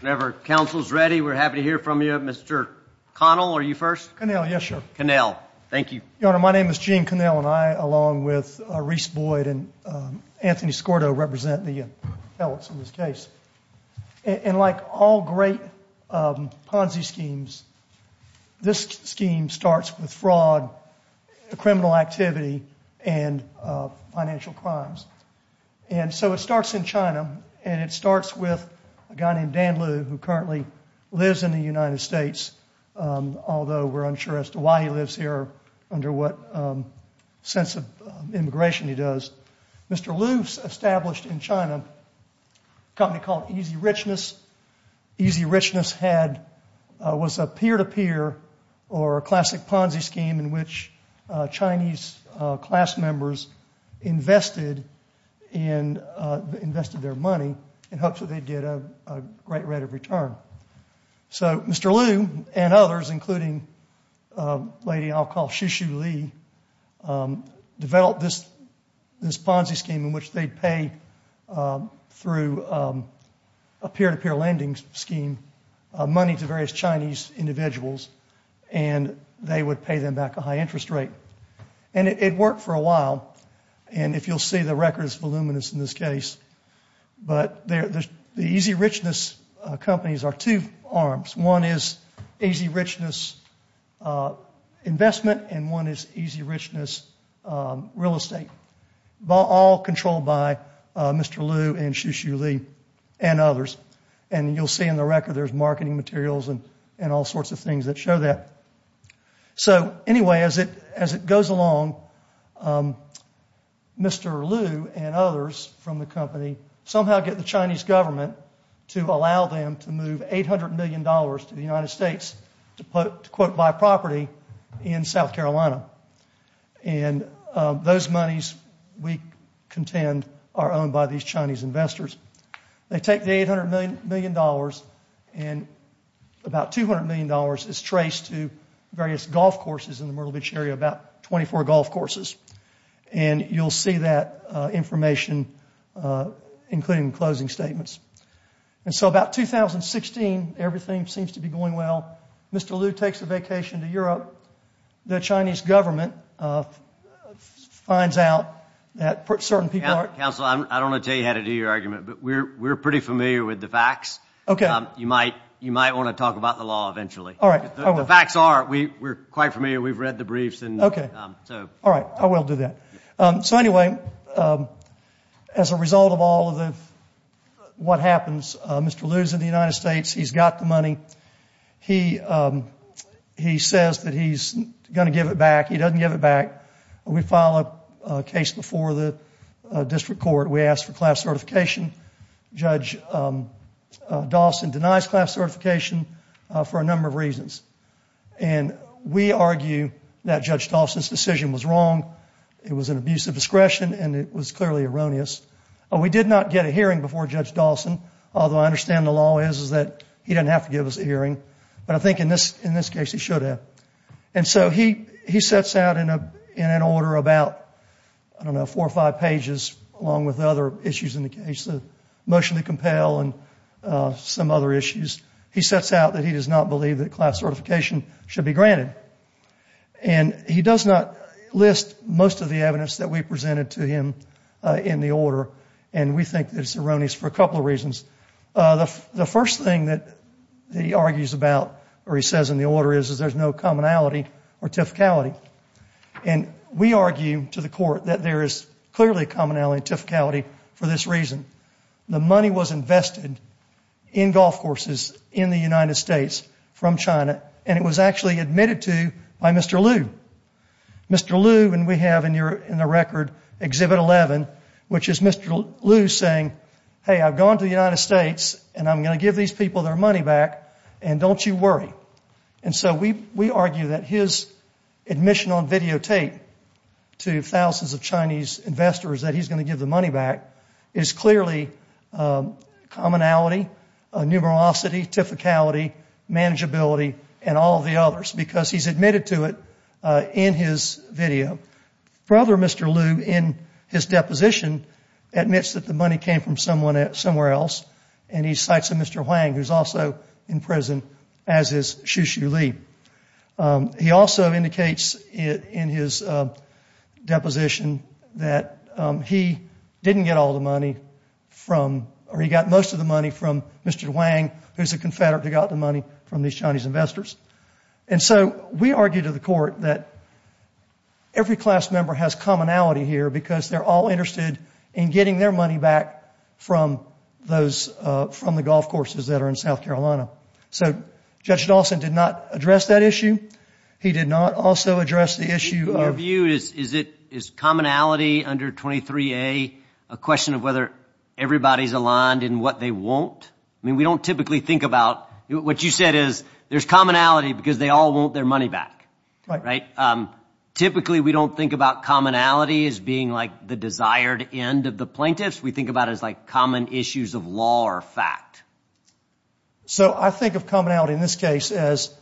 Whenever counsel's ready, we're happy to hear from you. Mr. Connell, are you first? Connell, yes, sir. Connell. Thank you. Your Honor, my name is Gene Connell, and I, along with Reese Boyd and Anthony Skordo, represent the felons in this case. And like all great Ponzi schemes, this scheme starts with fraud, criminal activity, and financial crimes. And so it starts in China, and it starts with a guy named Dan Liu who currently lives in the United States, although we're unsure as to why he lives here, under what sense of immigration he does. Mr. Liu established in China a company called Easy Richness. Easy Richness was a peer-to-peer or a classic Ponzi scheme in which Chinese class members invested their money in hopes that they'd get a great rate of return. So Mr. Liu and others, including a lady I'll call Shu Shu Li, developed this Ponzi scheme in which they'd pay through a peer-to-peer lending scheme money to various Chinese individuals, and they would pay them back a high interest rate. And it worked for a while, and if you'll see, the record is voluminous in this case. But the Easy Richness companies are two arms. One is Easy Richness Investment, and one is Easy Richness Real Estate, all controlled by Mr. Liu and Shu Shu Li and others. And you'll see in the record there's marketing materials and all sorts of things that show that. So anyway, as it goes along, Mr. Liu and others from the company somehow get the Chinese government to allow them to move $800 million to the United States to quote, buy property in South Carolina. And those monies, we contend, are owned by these Chinese investors. They take the $800 million and about $200 million is traced to various golf courses in the Myrtle Beach area, about 24 golf courses. And you'll see that information, including closing statements. And so about 2016, everything seems to be going well. Mr. Liu takes a vacation to Europe. The Chinese government finds out that certain people are- Counsel, I don't want to tell you how to do your argument, but we're pretty familiar with the facts. You might want to talk about the law eventually. All right. The facts are we're quite familiar. We've read the briefs. Okay. All right. I will do that. So anyway, as a result of all of what happens, Mr. Liu's in the United States. He's got the money. He says that he's going to give it back. He doesn't give it back. We file a case before the district court. We ask for class certification. Judge Dawson denies class certification for a number of reasons. And we argue that Judge Dawson's decision was wrong. It was an abuse of discretion, and it was clearly erroneous. We did not get a hearing before Judge Dawson, although I understand the law is that he didn't have to give us a hearing. But I think in this case he should have. And so he sets out in an order about, I don't know, four or five pages, along with other issues in the case of motion to compel and some other issues. He sets out that he does not believe that class certification should be granted. And he does not list most of the evidence that we presented to him in the order, and we think that it's erroneous for a couple of reasons. The first thing that he argues about, or he says in the order is, is there's no commonality or typicality. And we argue to the court that there is clearly a commonality and typicality for this reason. The money was invested in golf courses in the United States from China, and it was actually admitted to by Mr. Liu. Mr. Liu, and we have in the record Exhibit 11, which is Mr. Liu saying, hey, I've gone to the United States, and I'm going to give these people their money back, and don't you worry. And so we argue that his admission on videotape to thousands of Chinese investors that he's going to give the money back is clearly commonality, numerosity, typicality, manageability, and all the others because he's admitted to it in his video. Further, Mr. Liu, in his deposition, admits that the money came from somewhere else, and he cites a Mr. Huang who's also in prison as his Xu Xu Li. He also indicates in his deposition that he didn't get all the money from, or he got most of the money from Mr. Huang, who's a confederate who got the money from these Chinese investors. And so we argue to the court that every class member has commonality here because they're all interested in getting their money back from the golf courses that are in South Carolina. So Judge Dawson did not address that issue. He did not also address the issue of – In your view, is commonality under 23A a question of whether everybody's aligned in what they want? I mean, we don't typically think about – what you said is there's commonality because they all want their money back, right? Typically, we don't think about commonality as being like the desired end of the plaintiffs. We think about it as like common issues of law or fact. So I think of commonality in this case as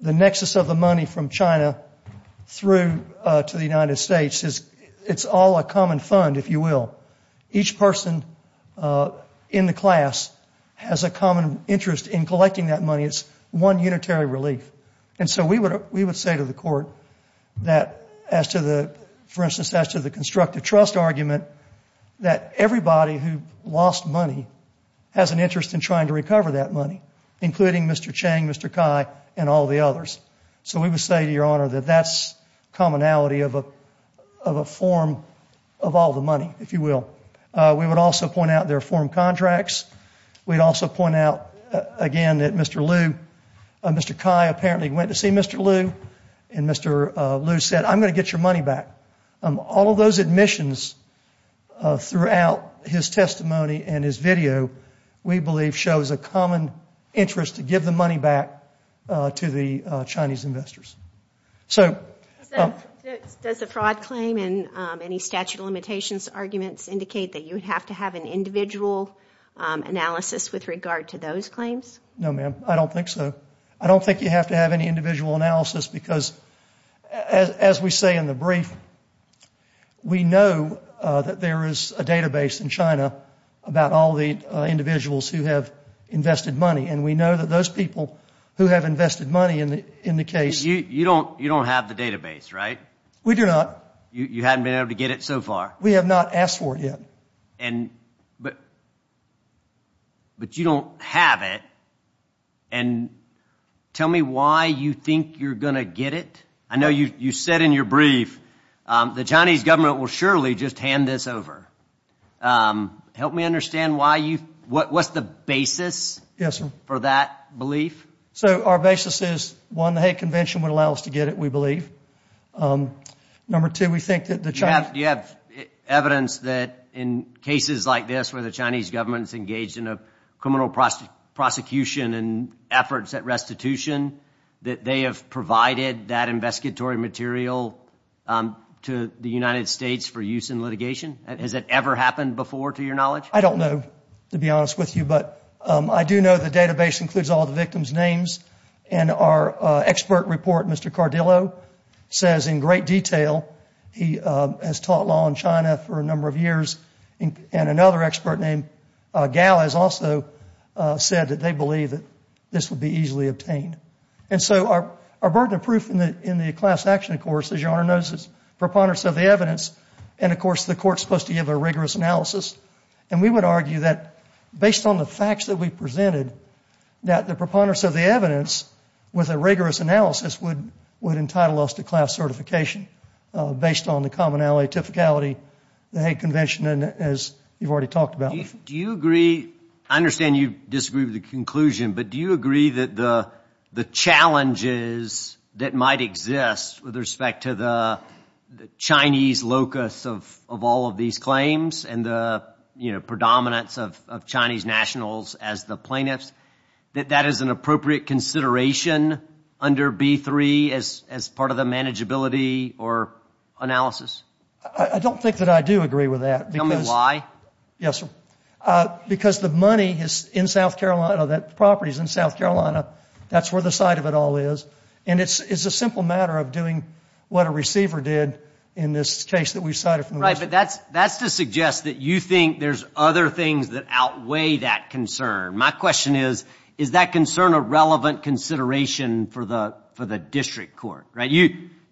the nexus of the money from China through to the United States. It's all a common fund, if you will. Each person in the class has a common interest in collecting that money. It's one unitary relief. And so we would say to the court that as to the – for instance, as to the constructive trust argument, that everybody who lost money has an interest in trying to recover that money, including Mr. Chang, Mr. Cai, and all the others. So we would say to Your Honor that that's commonality of a form of all the money, if you will. We would also point out their form contracts. We'd also point out, again, that Mr. Liu – Mr. Cai apparently went to see Mr. Liu, and Mr. Liu said, I'm going to get your money back. All of those admissions throughout his testimony and his video, we believe shows a common interest to give the money back to the Chinese investors. So – Does the fraud claim and any statute of limitations arguments indicate that you would have to have an individual analysis with regard to those claims? No, ma'am, I don't think so. I don't think you have to have any individual analysis because, as we say in the brief, we know that there is a database in China about all the individuals who have invested money, and we know that those people who have invested money in the case – You don't have the database, right? We do not. You haven't been able to get it so far? We have not asked for it yet. But you don't have it, and tell me why you think you're going to get it? I know you said in your brief the Chinese government will surely just hand this over. Help me understand why you – what's the basis for that belief? So our basis is, one, the Hague Convention would allow us to get it, we believe. Number two, we think that the Chinese – Do you have evidence that in cases like this where the Chinese government is engaged in a criminal prosecution and efforts at restitution, that they have provided that investigatory material to the United States for use in litigation? Has it ever happened before, to your knowledge? I don't know, to be honest with you, but I do know the database includes all the victims' names, and our expert report, Mr. Cardillo, says in great detail he has taught law in China for a number of years, and another expert named Gao has also said that they believe that this would be easily obtained. And so our burden of proof in the class action, of course, as your Honor knows, is preponderance of the evidence, and, of course, the court is supposed to give a rigorous analysis. And we would argue that based on the facts that we presented, that the preponderance of the evidence with a rigorous analysis would entitle us to class certification based on the commonality, typicality, the Hague Convention, as you've already talked about. Do you agree – I understand you disagree with the conclusion, but do you agree that the challenges that might exist with respect to the Chinese locus of all of these claims and the predominance of Chinese nationals as the plaintiffs, that that is an appropriate consideration under B-3 as part of the manageability or analysis? I don't think that I do agree with that. Tell me why. Yes, sir. Because the money is in South Carolina, the property is in South Carolina, that's where the site of it all is, and it's a simple matter of doing what a receiver did in this case that we cited from the West. Right, but that's to suggest that you think there's other things that outweigh that concern. My question is, is that concern a relevant consideration for the district court?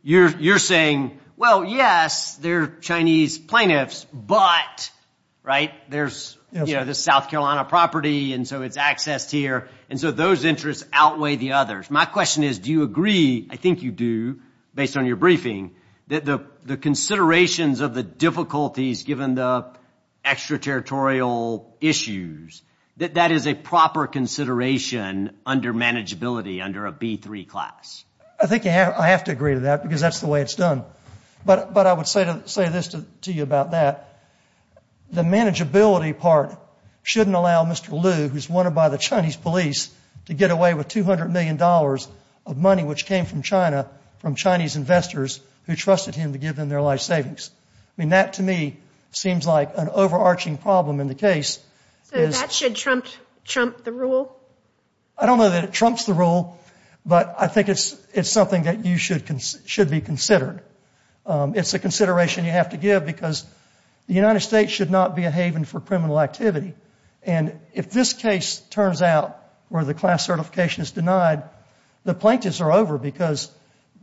You're saying, well, yes, they're Chinese plaintiffs, but there's this South Carolina property, and so it's accessed here, and so those interests outweigh the others. My question is, do you agree – I think you do, based on your briefing – that the considerations of the difficulties given the extraterritorial issues, that that is a proper consideration under manageability, under a B-3 class? I think I have to agree to that because that's the way it's done. But I would say this to you about that. The manageability part shouldn't allow Mr. Liu, who's wanted by the Chinese police, to get away with $200 million of money which came from China, from Chinese investors who trusted him to give them their life savings. I mean, that to me seems like an overarching problem in the case. So that should trump the rule? I don't know that it trumps the rule, but I think it's something that should be considered. It's a consideration you have to give because the United States should not be a haven for criminal activity. And if this case turns out where the class certification is denied, the plaintiffs are over because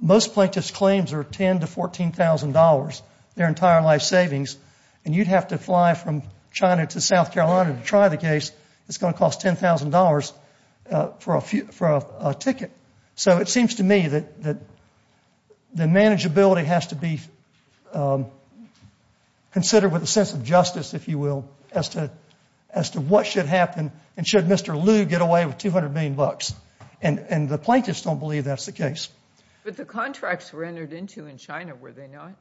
most plaintiffs' claims are $10,000 to $14,000, their entire life savings, and you'd have to fly from China to South Carolina to try the case. It's going to cost $10,000 for a ticket. So it seems to me that the manageability has to be considered with a sense of justice, if you will, as to what should happen and should Mr. Liu get away with $200 million. And the plaintiffs don't believe that's the case. But the contracts were entered into in China, were they not?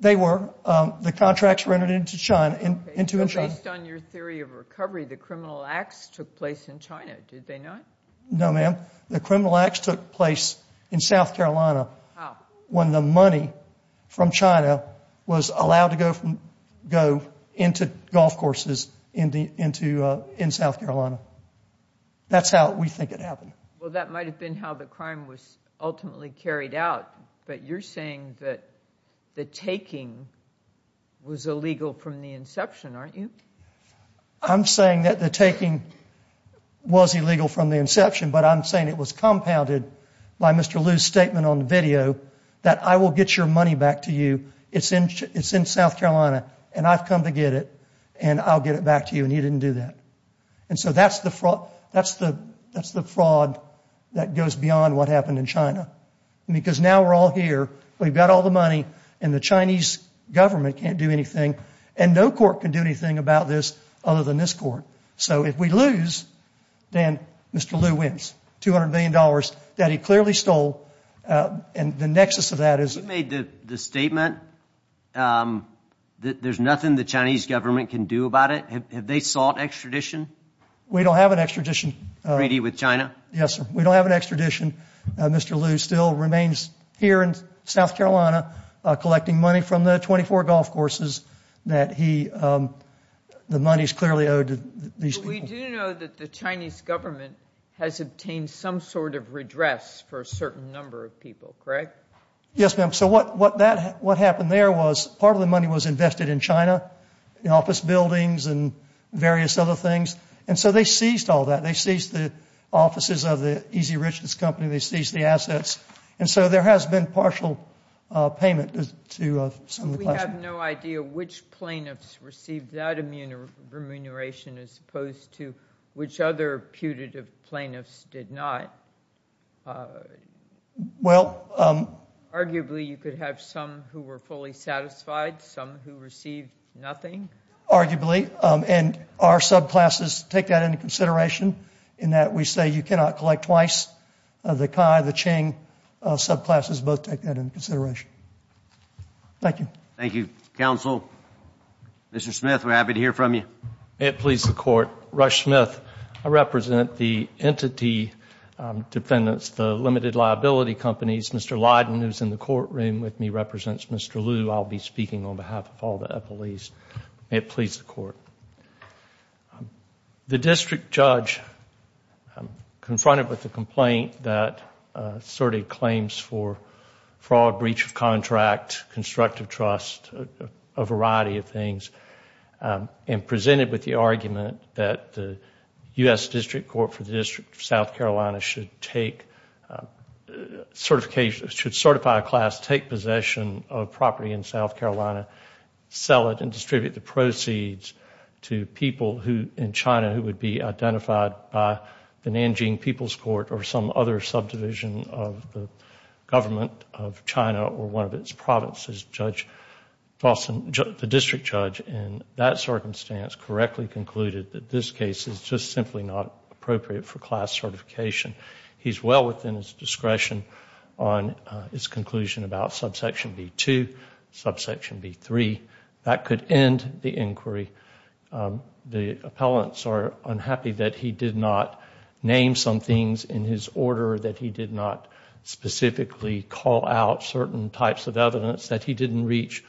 They were. The contracts were entered into in China. Based on your theory of recovery, the criminal acts took place in China, did they not? No, ma'am. The criminal acts took place in South Carolina. How? When the money from China was allowed to go into golf courses in South Carolina. That's how we think it happened. Well, that might have been how the crime was ultimately carried out, but you're saying that the taking was illegal from the inception, aren't you? I'm saying that the taking was illegal from the inception, but I'm saying it was compounded by Mr. Liu's statement on the video that I will get your money back to you, it's in South Carolina, and I've come to get it, and I'll get it back to you, and he didn't do that. And so that's the fraud that goes beyond what happened in China, because now we're all here, we've got all the money, and the Chinese government can't do anything, and no court can do anything about this other than this court. So if we lose, then Mr. Liu wins $200 million that he clearly stole, and the nexus of that is- You made the statement that there's nothing the Chinese government can do about it. Have they sought extradition? We don't have an extradition. With China? Yes, sir. We don't have an extradition. Mr. Liu still remains here in South Carolina collecting money from the 24 golf courses that the money is clearly owed to these people. But we do know that the Chinese government has obtained some sort of redress for a certain number of people, correct? Yes, ma'am. So what happened there was part of the money was invested in China, in office buildings and various other things. And so they seized all that. They seized the offices of the Easy Riches Company. They seized the assets. And so there has been partial payment to some of the- We have no idea which plaintiffs received that remuneration as opposed to which other putative plaintiffs did not. Well- Arguably, you could have some who were fully satisfied, some who received nothing. Arguably. And our subclasses take that into consideration in that we say you cannot collect twice. The Cai, the Ching subclasses both take that into consideration. Thank you. Thank you. Counsel, Mr. Smith, we're happy to hear from you. May it please the Court. Rush Smith. I represent the entity defendants, the limited liability companies. Mr. Lydon, who's in the courtroom with me, represents Mr. Liu. I'll be speaking on behalf of all the police. May it please the Court. The district judge confronted with the complaint that asserted claims for fraud, breach of contract, constructive trust, a variety of things, and presented with the argument that the U.S. District Court for the District of South Carolina should take certification- sell it and distribute the proceeds to people in China who would be identified by the Nanjing People's Court or some other subdivision of the government of China or one of its provinces, the district judge, in that circumstance correctly concluded that this case is just simply not appropriate for class certification. He's well within his discretion on his conclusion about subsection B-2, subsection B-3. That could end the inquiry. The appellants are unhappy that he did not name some things in his order, that he did not specifically call out certain types of evidence, that he didn't reach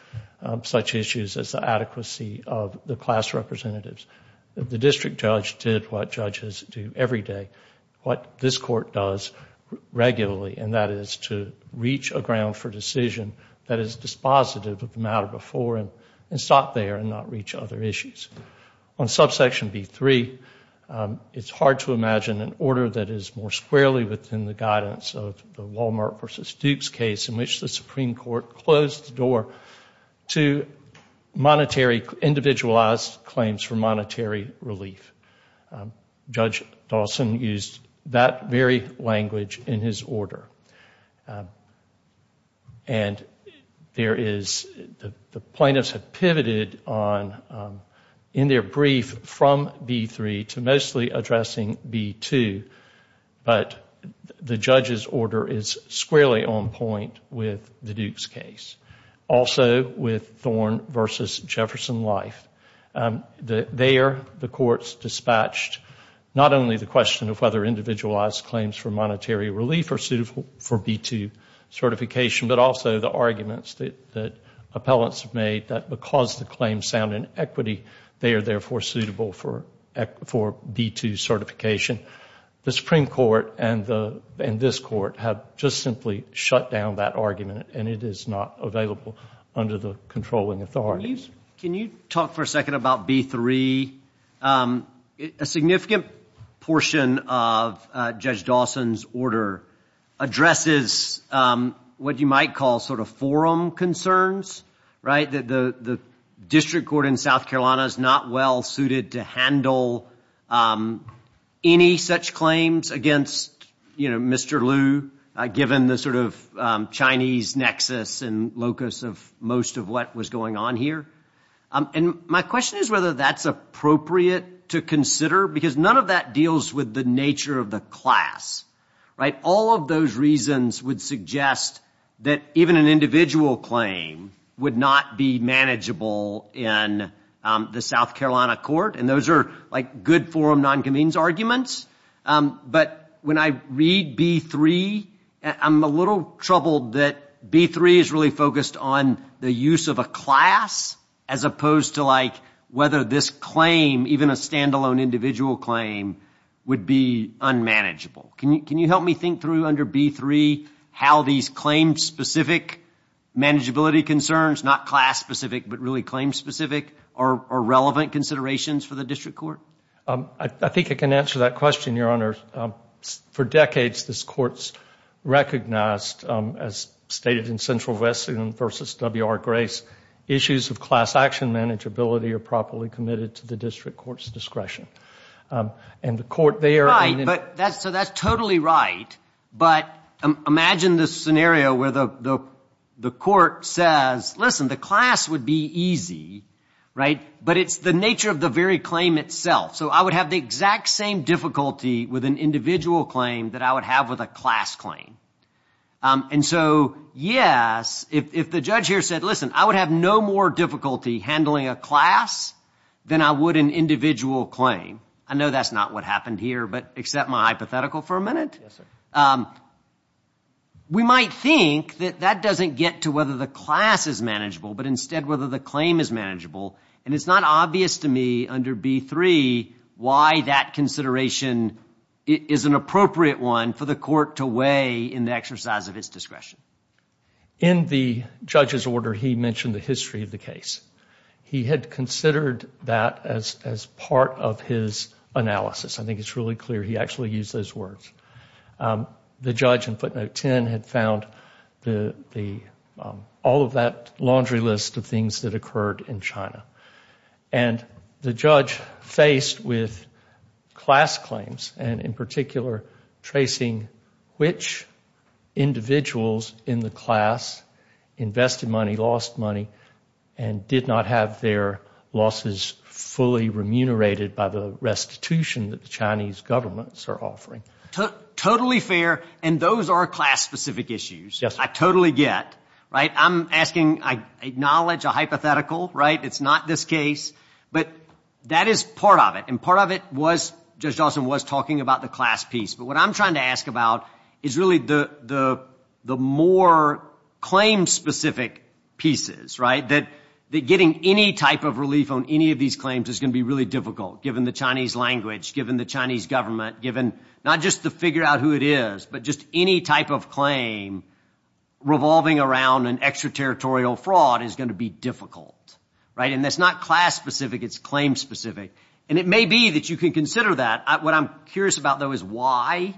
such issues as the adequacy of the class representatives. The district judge did what judges do every day, what this court does regularly, and that is to reach a ground for decision that is dispositive of the matter before it and stop there and not reach other issues. On subsection B-3, it's hard to imagine an order that is more squarely within the guidance of the Walmart v. Duke's case in which the Supreme Court closed the door to monetary-individualized claims for monetary relief. Judge Dawson used that very language in his order. The plaintiffs have pivoted in their brief from B-3 to mostly addressing B-2, but the judge's order is squarely on point with the Duke's case. Also with Thorn v. Jefferson Life, there the courts dispatched not only the question of whether individualized claims for monetary relief are suitable for B-2 certification, but also the arguments that appellants have made that because the claims sound in equity, they are therefore suitable for B-2 certification. The Supreme Court and this court have just simply shut down that argument, and it is not available under the controlling authorities. Can you talk for a second about B-3? A significant portion of Judge Dawson's order addresses what you might call sort of forum concerns. The district court in South Carolina is not well suited to handle any such claims against Mr. Liu, given the sort of Chinese nexus and locus of most of what was going on here. My question is whether that's appropriate to consider, because none of that deals with the nature of the class. All of those reasons would suggest that even an individual claim would not be manageable in the South Carolina court, and those are like good forum non-convenes arguments. But when I read B-3, I'm a little troubled that B-3 is really focused on the use of a class as opposed to whether this claim, even a stand-alone individual claim, would be unmanageable. Can you help me think through under B-3 how these claim-specific manageability concerns, not class-specific but really claim-specific, are relevant considerations for the district court? I think I can answer that question, Your Honor. For decades, this court's recognized, as stated in Central West vs. W.R. Grace, issues of class action manageability are properly committed to the district court's discretion. Right, so that's totally right, but imagine this scenario where the court says, listen, the class would be easy, but it's the nature of the very claim itself. So I would have the exact same difficulty with an individual claim that I would have with a class claim. And so, yes, if the judge here said, listen, I would have no more difficulty handling a class than I would an individual claim. I know that's not what happened here, but accept my hypothetical for a minute. We might think that that doesn't get to whether the class is manageable, but instead whether the claim is manageable, and it's not obvious to me under B-3 why that consideration is an appropriate one for the court to weigh in the exercise of its discretion. In the judge's order, he mentioned the history of the case. He had considered that as part of his analysis. I think it's really clear he actually used those words. The judge in footnote 10 had found all of that laundry list of things that occurred in China. And the judge faced with class claims, and in particular tracing which individuals in the class invested money, lost money, and did not have their losses fully remunerated by the restitution that the Chinese governments are offering. Totally fair, and those are class-specific issues. I totally get. I acknowledge a hypothetical. It's not this case, but that is part of it. And part of it was, Judge Dawson was talking about the class piece. But what I'm trying to ask about is really the more claim-specific pieces, that getting any type of relief on any of these claims is going to be really difficult, given the Chinese language, given the Chinese government, given not just to figure out who it is, but just any type of claim revolving around an extraterritorial fraud is going to be difficult. And that's not class-specific, it's claim-specific. And it may be that you can consider that. What I'm curious about, though, is why,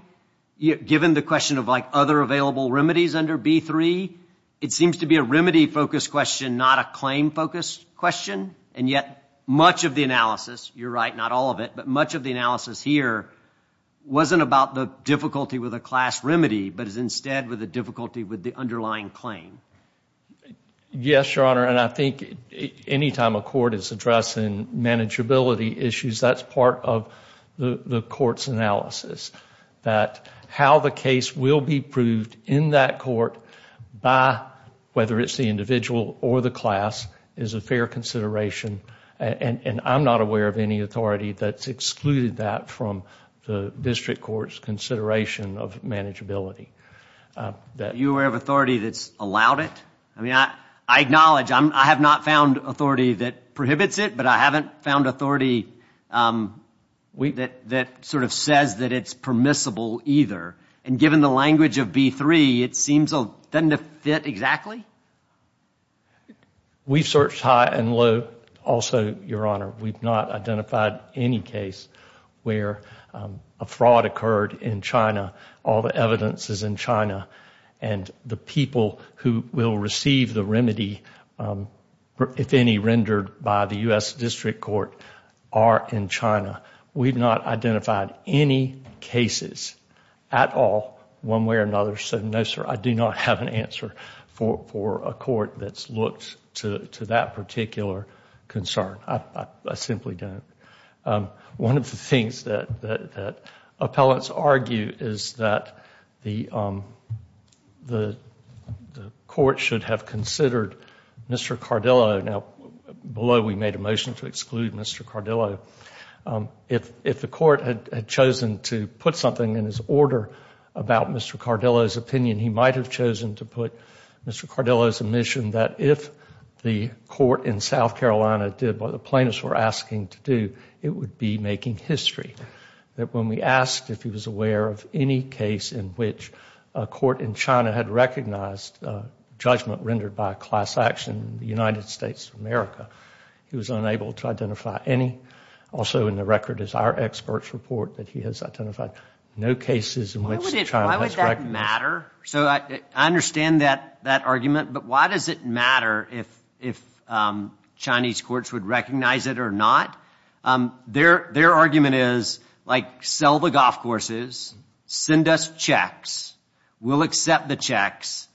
given the question of other available remedies under B3, it seems to be a remedy-focused question, not a claim-focused question. And yet much of the analysis, you're right, not all of it, but much of the analysis here wasn't about the difficulty with a class remedy, but is instead with the difficulty with the underlying claim. Yes, Your Honor, and I think any time a court is addressing manageability issues, that's part of the court's analysis, that how the case will be proved in that court by whether it's the individual or the class is a fair consideration. And I'm not aware of any authority that's excluded that from the district court's consideration of manageability. Are you aware of authority that's allowed it? I acknowledge I have not found authority that prohibits it, but I haven't found authority that sort of says that it's permissible either. And given the language of B3, it seems it doesn't fit exactly? We've searched high and low also, Your Honor. We've not identified any case where a fraud occurred in China, all the evidence is in China, and the people who will receive the remedy, if any, rendered by the U.S. District Court are in China. We've not identified any cases at all, one way or another, so no, sir, I do not have an answer for a court that's looked to that particular concern. I simply don't. One of the things that appellants argue is that the court should have considered Mr. Cardillo. Now, below we made a motion to exclude Mr. Cardillo. If the court had chosen to put something in his order about Mr. Cardillo's opinion, he might have chosen to put Mr. Cardillo's admission that if the court in South Carolina did what the plaintiffs were asking to do, it would be making history. That when we asked if he was aware of any case in which a court in China had recognized judgment rendered by class action in the United States of America, he was unable to identify any. Also in the record is our expert's report that he has identified no cases in which China has recognized. Why would that matter? So I understand that argument, but why does it matter if Chinese courts would recognize it or not? Their argument is, like, sell the golf courses, send us checks, we'll accept the checks.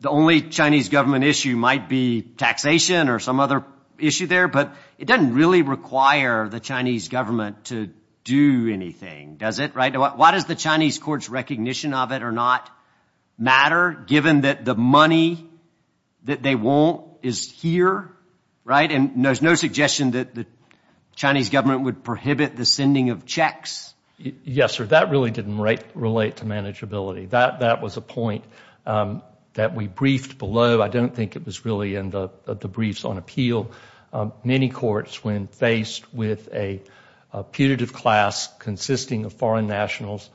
The only Chinese government issue might be taxation or some other issue there, but it doesn't really require the Chinese government to do anything, does it? Why does the Chinese courts' recognition of it or not matter given that the money that they want is here, right? And there's no suggestion that the Chinese government would prohibit the sending of checks. Yes, sir, that really didn't relate to manageability. That was a point that we briefed below. I don't think it was really in the briefs on appeal. Many courts, when faced with a putative class consisting of foreign nationals,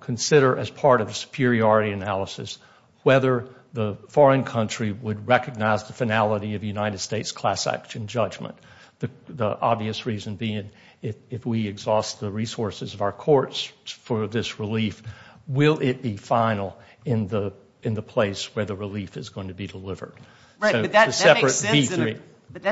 consider, as part of the superiority analysis, whether the foreign country would recognize the finality of the United States' class action judgment. The obvious reason being, if we exhaust the resources of our courts for this relief, will it be final in the place where the relief is going to be delivered? Right, but that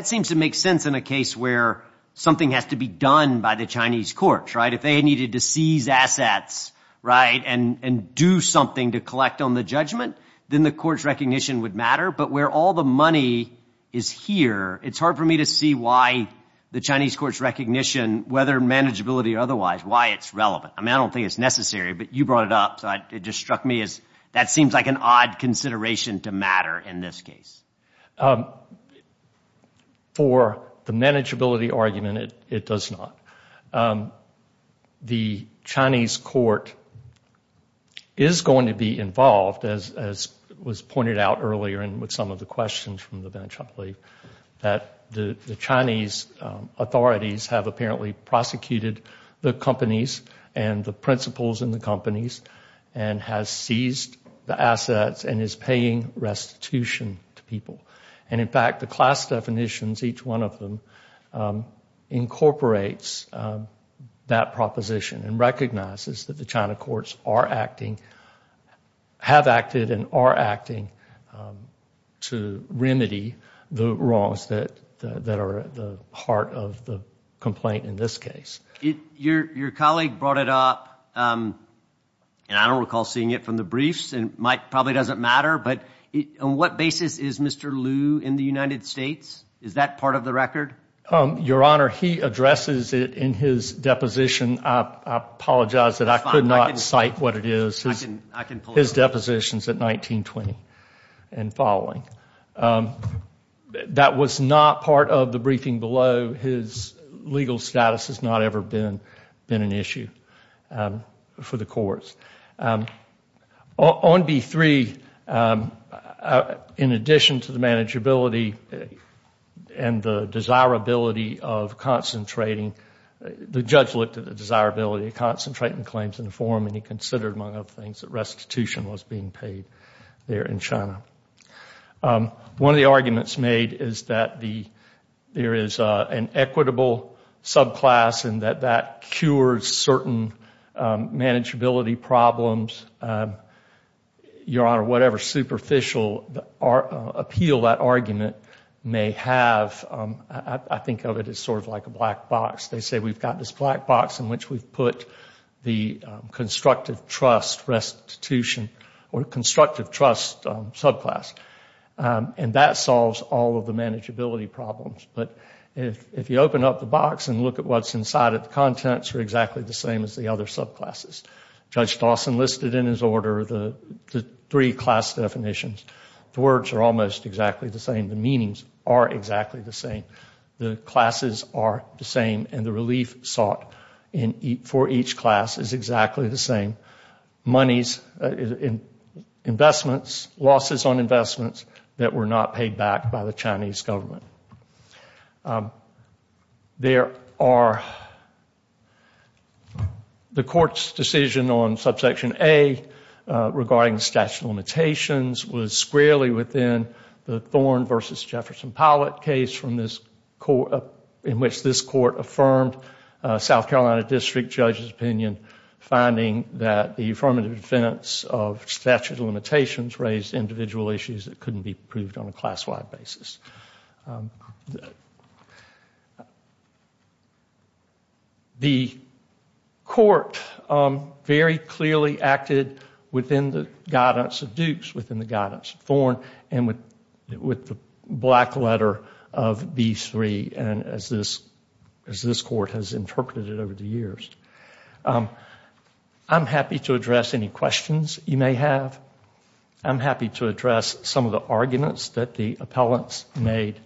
seems to make sense in a case where something has to be done by the Chinese courts, right? If they needed to seize assets, right, and do something to collect on the judgment, then the courts' recognition would matter. But where all the money is here, it's hard for me to see why the Chinese courts' recognition, whether manageability or otherwise, why it's relevant. I mean, I don't think it's necessary, but you brought it up, so it just struck me as that seems like an odd consideration to matter in this case. For the manageability argument, it does not. The Chinese court is going to be involved, as was pointed out earlier and with some of the questions from the bench, I believe, that the Chinese authorities have apparently prosecuted the companies and the principals in the companies and has seized the assets and is paying restitution to people. And in fact, the class definitions, each one of them, incorporates that proposition and recognizes that the China courts are acting, have acted and are acting to remedy the wrongs that are at the heart of the complaint in this case. Your colleague brought it up, and I don't recall seeing it from the briefs, and it probably doesn't matter, but on what basis is Mr Liu in the United States? Is that part of the record? Your Honor, he addresses it in his deposition. I apologize that I could not cite what it is. His deposition is at 19-20 and following. That was not part of the briefing below. His legal status has not ever been an issue for the courts. On B-3, in addition to the manageability and the desirability of concentrating, the judge looked at the desirability of concentrating claims in the forum and he considered, among other things, that restitution was being paid there in China. One of the arguments made is that there is an equitable subclass and that that cures certain manageability problems. Your Honor, whatever superficial appeal that argument may have, I think of it as sort of like a black box. They say we've got this black box in which we've put the constructive trust restitution or constructive trust subclass, and that solves all of the manageability problems. But if you open up the box and look at what's inside it, the contents are exactly the same as the other subclasses. Judge Dawson listed in his order the three class definitions. The words are almost exactly the same. The meanings are exactly the same. The classes are the same, and the relief sought for each class is exactly the same. Monies, investments, losses on investments that were not paid back by the Chinese government. There are... The Court's decision on Subsection A regarding statute of limitations was squarely within the Thorne v. Jefferson-Powlett case in which this Court affirmed South Carolina District Judge's opinion, finding that the affirmative defense of statute of limitations raised individual issues that couldn't be proved on a class-wide basis. The... The Court very clearly acted within the guidance of Dukes, within the guidance of Thorne, and with the black letter of B-3, as this Court has interpreted it over the years. I'm happy to address any questions you may have. I'm happy to address some of the arguments that the appellants made.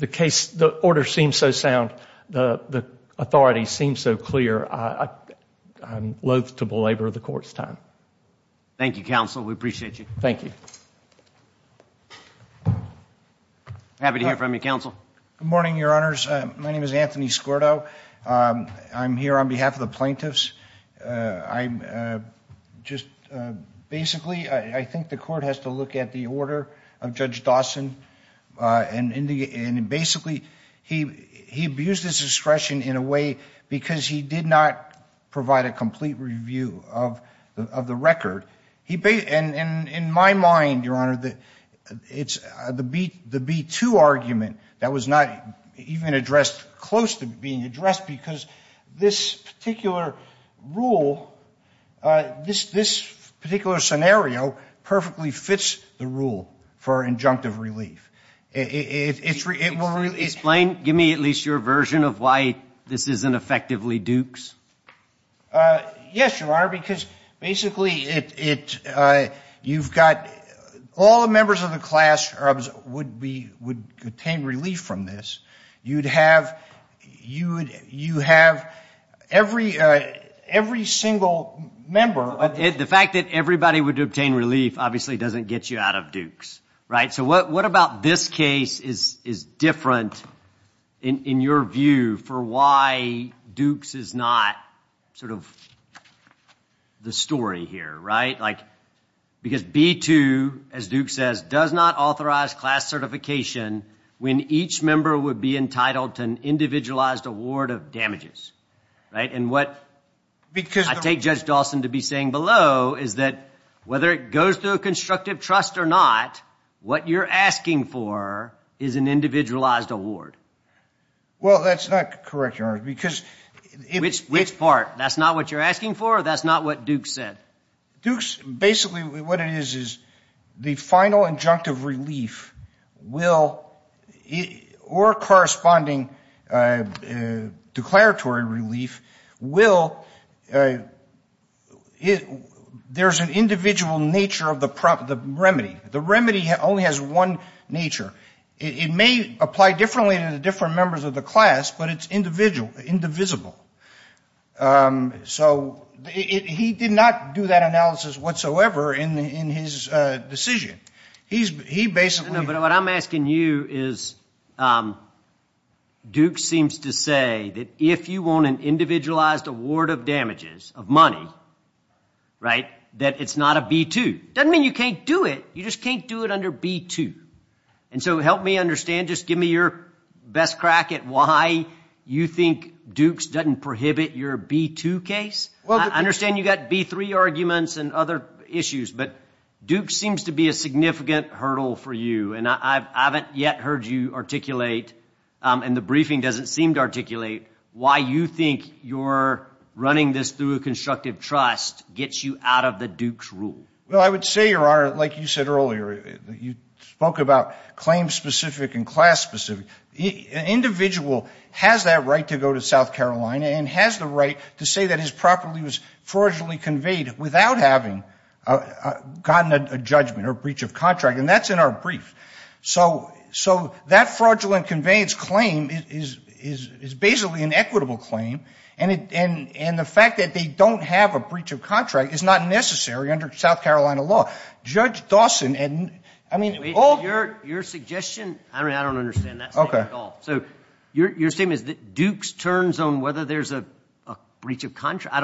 The case, the order seems so sound. The authority seems so clear. I'm loathe to belabor the Court's time. Thank you, Counsel. We appreciate you. Thank you. Happy to hear from you, Counsel. Good morning, Your Honors. My name is Anthony Skordo. I'm here on behalf of the plaintiffs. I'm just... Basically, I think the Court has to look at the order of Judge Dawson. And basically, he abused his discretion in a way because he did not provide a complete review of the record. And in my mind, Your Honor, it's the B-2 argument that was not even addressed, close to being addressed, because this particular rule, this particular scenario, perfectly fits the rule for injunctive relief. Explain, give me at least your version of why this isn't effectively Duke's? Yes, Your Honor, because basically, all the members of the class would obtain relief from this. You would have every single member... The fact that everybody would obtain relief obviously doesn't get you out of Duke's, right? So what about this case is different in your view for why Duke's is not sort of the story here, right? Because B-2, as Duke says, does not authorize class certification when each member would be entitled to an individualized award of damages, right? And what I take Judge Dawson to be saying below is that whether it goes through a constructive trust or not, what you're asking for is an individualized award. Well, that's not correct, Your Honor, because... Which part? That's not what you're asking for or that's not what Duke said? Duke's, basically, what it is is the final injunctive relief or corresponding declaratory relief will... There's an individual nature of the remedy. The remedy only has one nature. It may apply differently to the different members of the class, So he did not do that analysis whatsoever in his decision. He basically... No, but what I'm asking you is Duke seems to say that if you want an individualized award of damages, of money, right, that it's not a B-2. Doesn't mean you can't do it. You just can't do it under B-2. And so help me understand, just give me your best crack at why you think Duke's doesn't prohibit your B-2 case. I understand you've got B-3 arguments and other issues, but Duke seems to be a significant hurdle for you and I haven't yet heard you articulate and the briefing doesn't seem to articulate why you think you're running this through a constructive trust gets you out of the Duke's rule. Well, I would say, Your Honor, like you said earlier, you spoke about claim-specific and class-specific. An individual has that right to go to South Carolina and has the right to say that his property was fraudulently conveyed without having gotten a judgment or breach of contract and that's in our brief. So that fraudulent conveyance claim is basically an equitable claim and the fact that they don't have a breach of contract is not necessary under South Carolina law. Your suggestion... I don't understand that statement at all. So your statement is that Duke's turns on whether there's a breach of contract?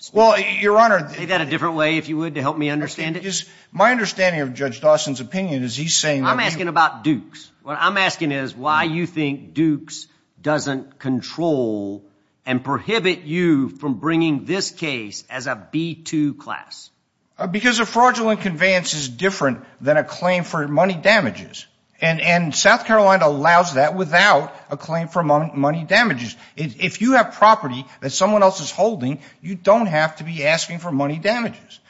Say that a different way, if you would, to help me understand it. My understanding of Judge Dawson's opinion is he's saying... I'm asking about Duke's. What I'm asking is why you think Duke's doesn't control and prohibit you from bringing this case as a B-2 class. Because a fraudulent conveyance is different than a claim for money damages and South Carolina allows that without a claim for money damages. If you have property that someone else is holding, you don't have to be asking for money damages.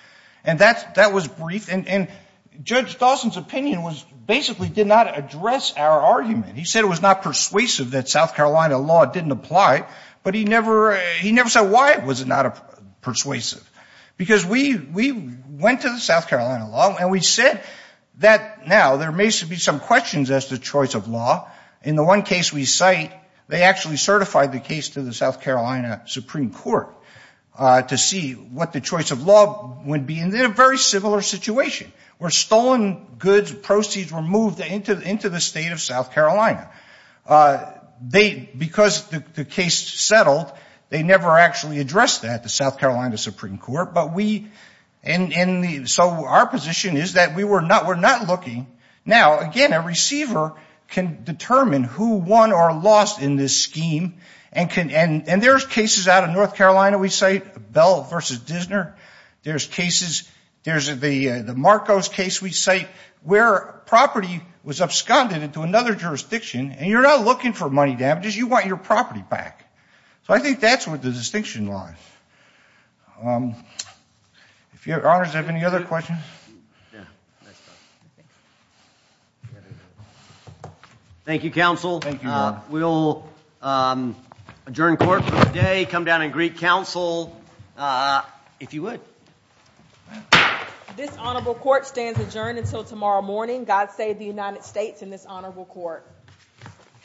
And that was brief and Judge Dawson's opinion basically did not address our argument. He said it was not persuasive that South Carolina law didn't apply but he never said why it was not persuasive. Because we went to the South Carolina law and we said that now there may be some questions as to choice of law. In the one case we cite, they actually certified the case to the South Carolina Supreme Court to see what the choice of law would be. And they're in a very similar situation where stolen goods, proceeds were moved into the state of South Carolina. Because the case settled, they never actually addressed that to South Carolina Supreme Court. So our position is that we're not looking. Now, again, a receiver can determine who won or lost in this scheme. And there's cases out of North Carolina we cite, Bell v. Dissner. There's the Marcos case we cite where property was absconded into another jurisdiction and you're not looking for money damages, you want your property back. So I think that's where the distinction lies. If your honors have any other questions. Thank you, counsel. We'll adjourn court for the day. Come down and greet counsel if you would. This honorable court stands adjourned until tomorrow morning. God save the United States and this honorable court.